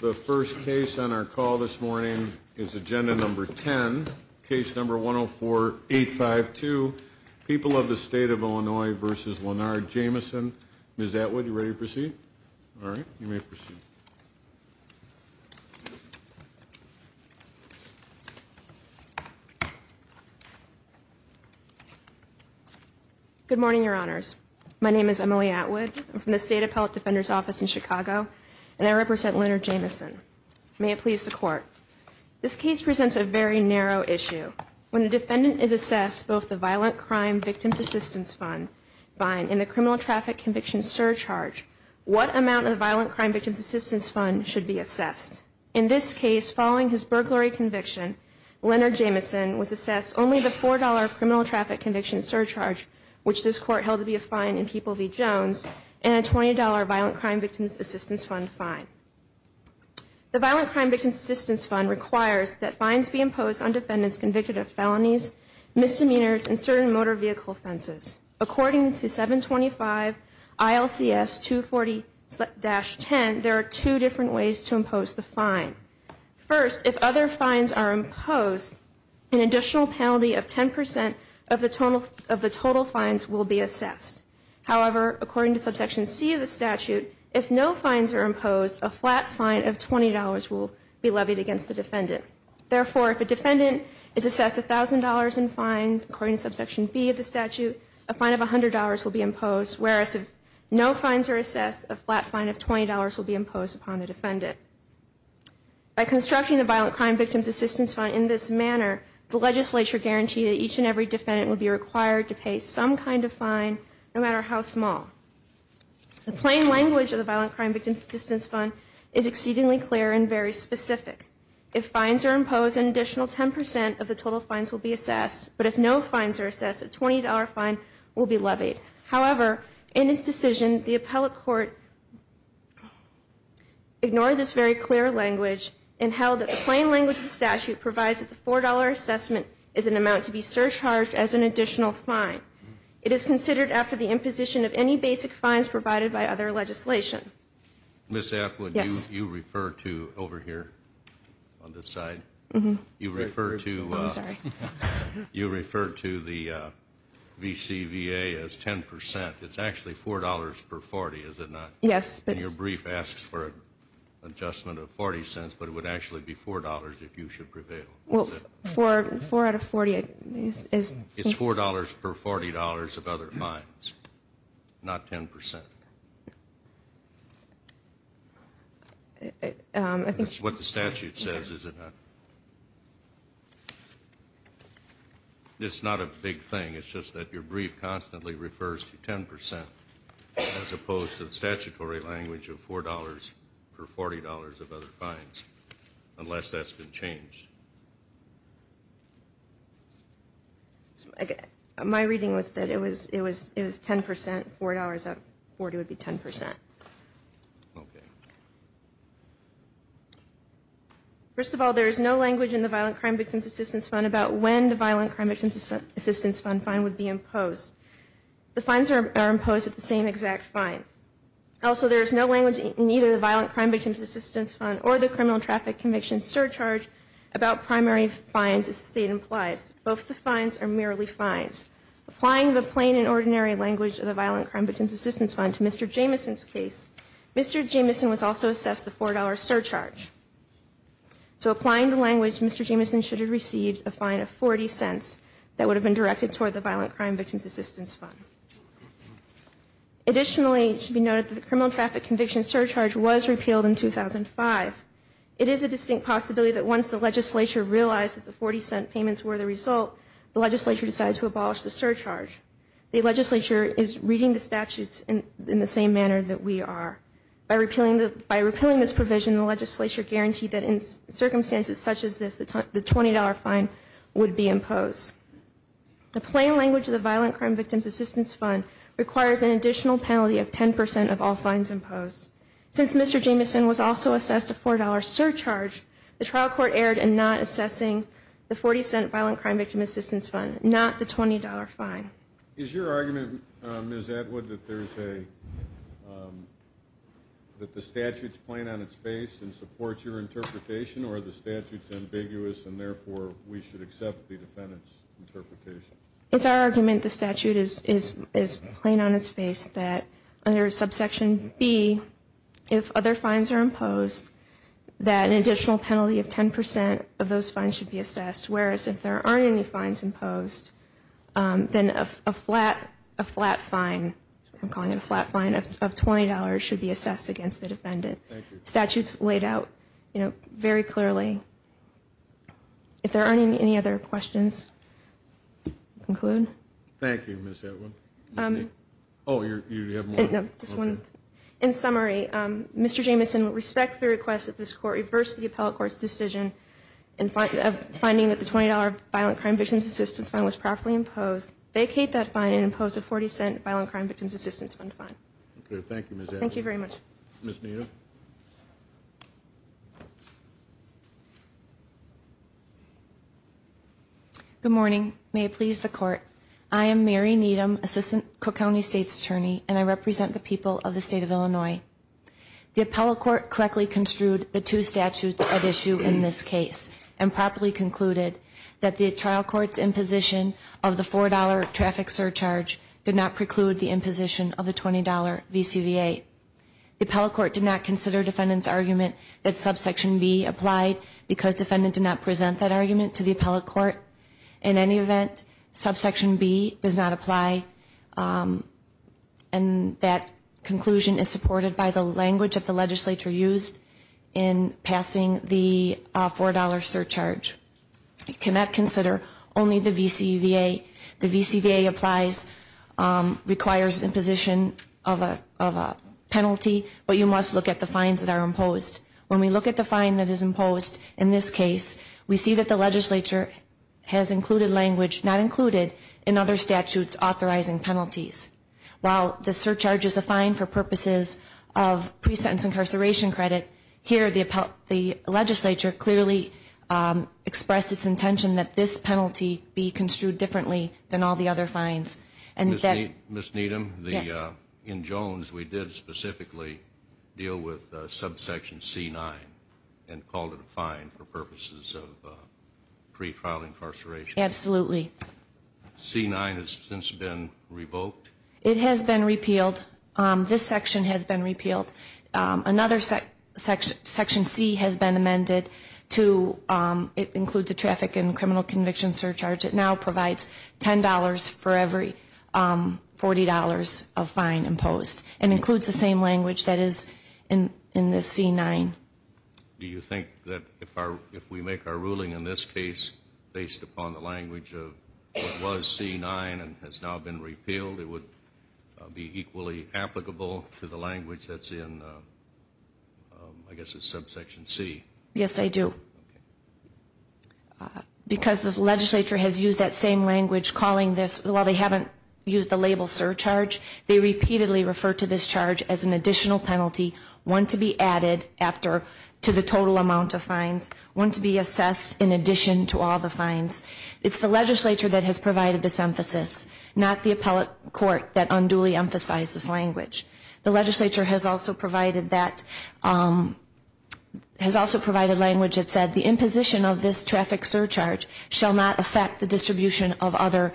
The first case on our call this morning is agenda number 10, case number 104-852, People of the State of Illinois v. Leonard Jamison. Ms. Atwood, are you ready to proceed? All right, you may proceed. Good morning, Your Honors. My name is Emily Atwood. I'm from the State Appellate Defender's Office in Chicago, and I represent Leonard Jamison. May it please the Court. This case presents a very narrow issue. When a defendant is assessed both the Violent Crime Victims Assistance Fund fine and the Criminal Traffic Conviction Surcharge, what amount of the Violent Crime Victims Assistance Fund should be assessed? In this case, following his burglary conviction, Leonard Jamison was assessed only the $4 Criminal Traffic Conviction Surcharge, which this Court held to be a fine in People v. Jones, and a $20 Violent Crime Victims Assistance Fund fine. The Violent Crime Victims Assistance Fund requires that fines be imposed on defendants convicted of felonies, misdemeanors, and certain motor vehicle offenses. According to 725 ILCS 240-10, there are two different ways to impose the fine. First, if other fines are imposed, an additional penalty of 10% of the total fines will be assessed. However, according to Subsection C of the statute, if no fines are imposed, a flat fine of $20 will be levied against the defendant. Therefore, if a defendant is assessed $1,000 in fines, according to Subsection B of the statute, a fine of $100 will be imposed, whereas if no fines are assessed, a flat fine of $20 will be imposed upon the defendant. By constructing the Violent Crime Victims Assistance Fund in this manner, the legislature guaranteed that each and every defendant would be required to pay some kind of fine, no matter how small. The plain language of the Violent Crime Victims Assistance Fund is exceedingly clear and very specific. If fines are imposed, an additional 10% of the total fines will be assessed, but if no fines are assessed, a $20 fine will be levied. However, in this decision, the appellate court ignored this very clear language and held that the plain language of the statute provides that the $4 assessment is an amount to be surcharged as an additional fine. It is considered after the imposition of any basic fines provided by other legislation. Ms. Appwood, you refer to over here on this side, you refer to the VCVA as 10%. It's actually $4 per 40, is it not? Yes. And your brief asks for an adjustment of 40 cents, but it would actually be $4 if you should prevail. Well, 4 out of 40 is... It's $4 per $40 of other fines, not 10%. That's what the statute says, is it not? It's not a big thing. It's just that your brief constantly refers to 10%, as opposed to the statutory language of $4 per $40 of other fines, unless that's been changed. My reading was that it was 10%, $4 out of 40 would be 10%. Okay. First of all, there is no language in the Violent Crime Victims Assistance Fund about when the Violent Crime Victims Assistance Fund fine would be imposed. The fines are imposed at the same exact fine. Also, there is no language in either the Violent Crime Victims Assistance Fund or the Criminal Traffic Convictions Surcharge about primary fines, as the State implies. Both the fines are merely fines. Applying the plain and ordinary language of the Violent Crime Victims Assistance Fund to Mr. Jamison's case, Mr. Jamison was also assessed the $4 surcharge. So applying the language, Mr. Jamison should have received a fine of 40 cents that would have been directed toward the Violent Crime Victims Assistance Fund. Additionally, it should be noted that the Criminal Traffic Convictions Surcharge was repealed in 2005. It is a distinct possibility that once the legislature realized that the 40-cent payments were the result, the legislature decided to abolish the surcharge. The legislature is reading the statutes in the same manner that we are. By repealing this provision, the legislature guaranteed that in circumstances such as this, the $20 fine would be imposed. The plain language of the Violent Crime Victims Assistance Fund requires an additional penalty of 10% of all fines imposed. Since Mr. Jamison was also assessed a $4 surcharge, the trial court erred in not assessing the 40-cent Violent Crime Victims Assistance Fund, not the $20 fine. Is your argument, Ms. Atwood, that the statute is plain on its face and supports your interpretation or the statute is ambiguous and therefore we should accept the defendant's interpretation? It's our argument the statute is plain on its face that under subsection B, if other fines are imposed, that an additional penalty of 10% of those fines should be assessed, whereas if there aren't any fines imposed, then a flat fine, I'm calling it a flat fine, of $20 should be assessed against the defendant. The statute's laid out very clearly. If there aren't any other questions, I'll conclude. Thank you, Ms. Atwood. Oh, you have more? No, just one. In summary, Mr. Jamison would respect the request that this Court reverse the appellate court's decision of finding that the $20 Violent Crime Victims Assistance Fund was properly imposed, vacate that fine, and impose a 40-cent Violent Crime Victims Assistance Fund fine. Okay, thank you, Ms. Atwood. Thank you very much. Ms. Needham? Good morning. May it please the Court, I am Mary Needham, Assistant Cook County State's Attorney, and I represent the people of the State of Illinois. The appellate court correctly construed the two statutes at issue in this case and properly concluded that the trial court's imposition of the $4 traffic surcharge did not preclude the imposition of the $20 VCVA. The appellate court did not consider defendant's argument that subsection B applied because defendant did not present that argument to the appellate court. In any event, subsection B does not apply, and that conclusion is supported by the language of the legislature used in passing the $4 surcharge. It cannot consider only the VCVA. The VCVA applies, requires imposition of a penalty, but you must look at the fines that are imposed. When we look at the fine that is imposed in this case, we see that the legislature has included language not included in other statutes authorizing penalties. While the surcharge is a fine for purposes of pre-sentence incarceration credit, here the legislature clearly expressed its intention that this penalty be construed differently than all the other fines. Ms. Needham, in Jones we did specifically deal with subsection C-9 and called it a fine for purposes of pre-trial incarceration. Absolutely. C-9 has since been revoked? It has been repealed. This section has been repealed. Another section, section C, has been amended to include the traffic and criminal conviction surcharge. It now provides $10 for every $40 of fine imposed and includes the same language that is in this C-9. Do you think that if we make our ruling in this case based upon the language of what was C-9 and has now been repealed, it would be equally applicable to the language that's in, I guess it's subsection C? Yes, I do. Because the legislature has used that same language calling this, while they haven't used the label surcharge, they repeatedly refer to this charge as an additional penalty, one to be added after to the total amount of fines, one to be assessed in addition to all the fines. It's the legislature that has provided this emphasis, not the appellate court that unduly emphasized this language. The legislature has also provided language that said the imposition of this traffic surcharge shall not affect the distribution of other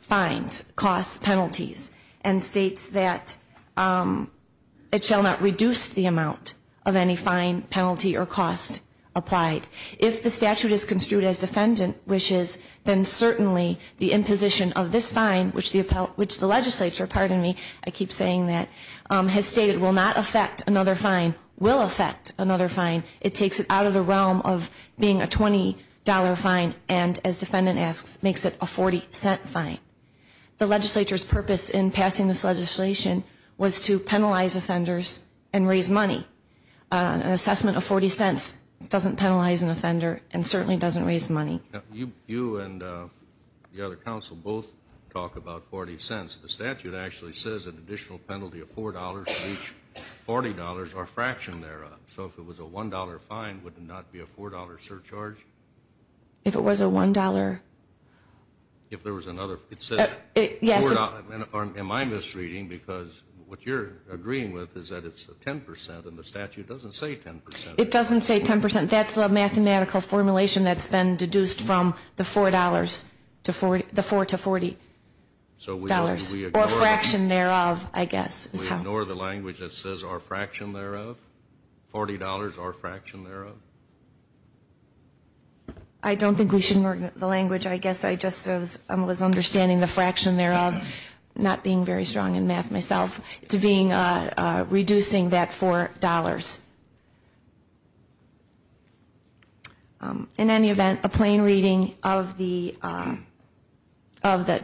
fines, costs, penalties, and states that it shall not reduce the amount of any fine, penalty, or cost applied. If the statute is construed as defendant wishes, then certainly the imposition of this fine, which the legislature, pardon me, I keep saying that, has stated will not affect another fine, will affect another fine. It takes it out of the realm of being a $20 fine and, as defendant asks, makes it a $0.40 fine. The legislature's purpose in passing this legislation was to penalize offenders and raise money. An assessment of $0.40 doesn't penalize an offender and certainly doesn't raise money. You and the other counsel both talk about $0.40. The statute actually says an additional penalty of $4 for each $40 or a fraction thereof. So if it was a $1 fine, would it not be a $4 surcharge? If it was a $1? If there was another? Am I misreading? Because what you're agreeing with is that it's 10% and the statute doesn't say 10%. It doesn't say 10%. That's the mathematical formulation that's been deduced from the $4 to $40. Or a fraction thereof, I guess. We ignore the language that says or a fraction thereof? $40 or a fraction thereof? I don't think we should ignore the language. I guess I just was understanding the fraction thereof. I'm not being very strong in math myself. It's reducing that $4. In any event, a plain reading of the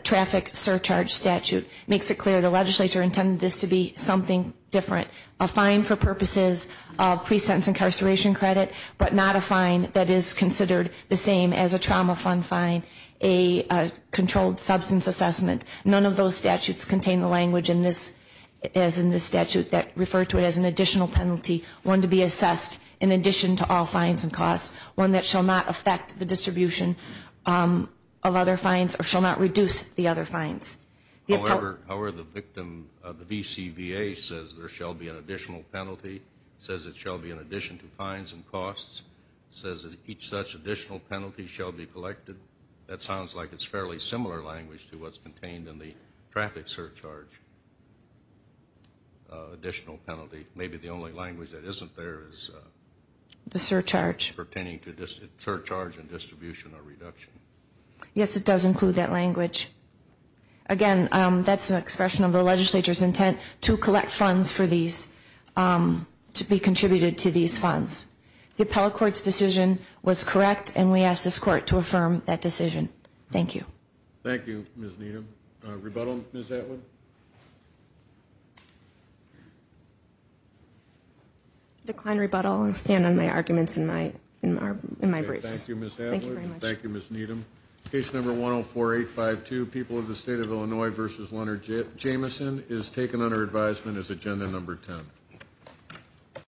traffic surcharge statute makes it clear the legislature intended this to be something different. A fine for purposes of pre-sentence incarceration credit, but not a fine that is considered the same as a trauma fund fine, a controlled substance assessment. None of those statutes contain the language as in this statute that refer to it as an additional penalty, one to be assessed in addition to all fines and costs, one that shall not affect the distribution of other fines or shall not reduce the other fines. However, the victim, the VCVA says there shall be an additional penalty. It says it shall be in addition to fines and costs. It says that each such additional penalty shall be collected. That sounds like it's fairly similar language to what's contained in the traffic surcharge additional penalty. Maybe the only language that isn't there is pertaining to surcharge and distribution or reduction. Yes, it does include that language. Again, that's an expression of the legislature's intent to collect funds for these, to be contributed to these funds. The appellate court's decision was correct, and we ask this court to affirm that decision. Thank you. Thank you, Ms. Needham. Rebuttal, Ms. Atwood? I decline rebuttal and stand on my arguments in my briefs. Thank you, Ms. Atwood. Case number 104852, People of the State of Illinois v. Leonard Jameson, is taken under advisement as agenda number 10.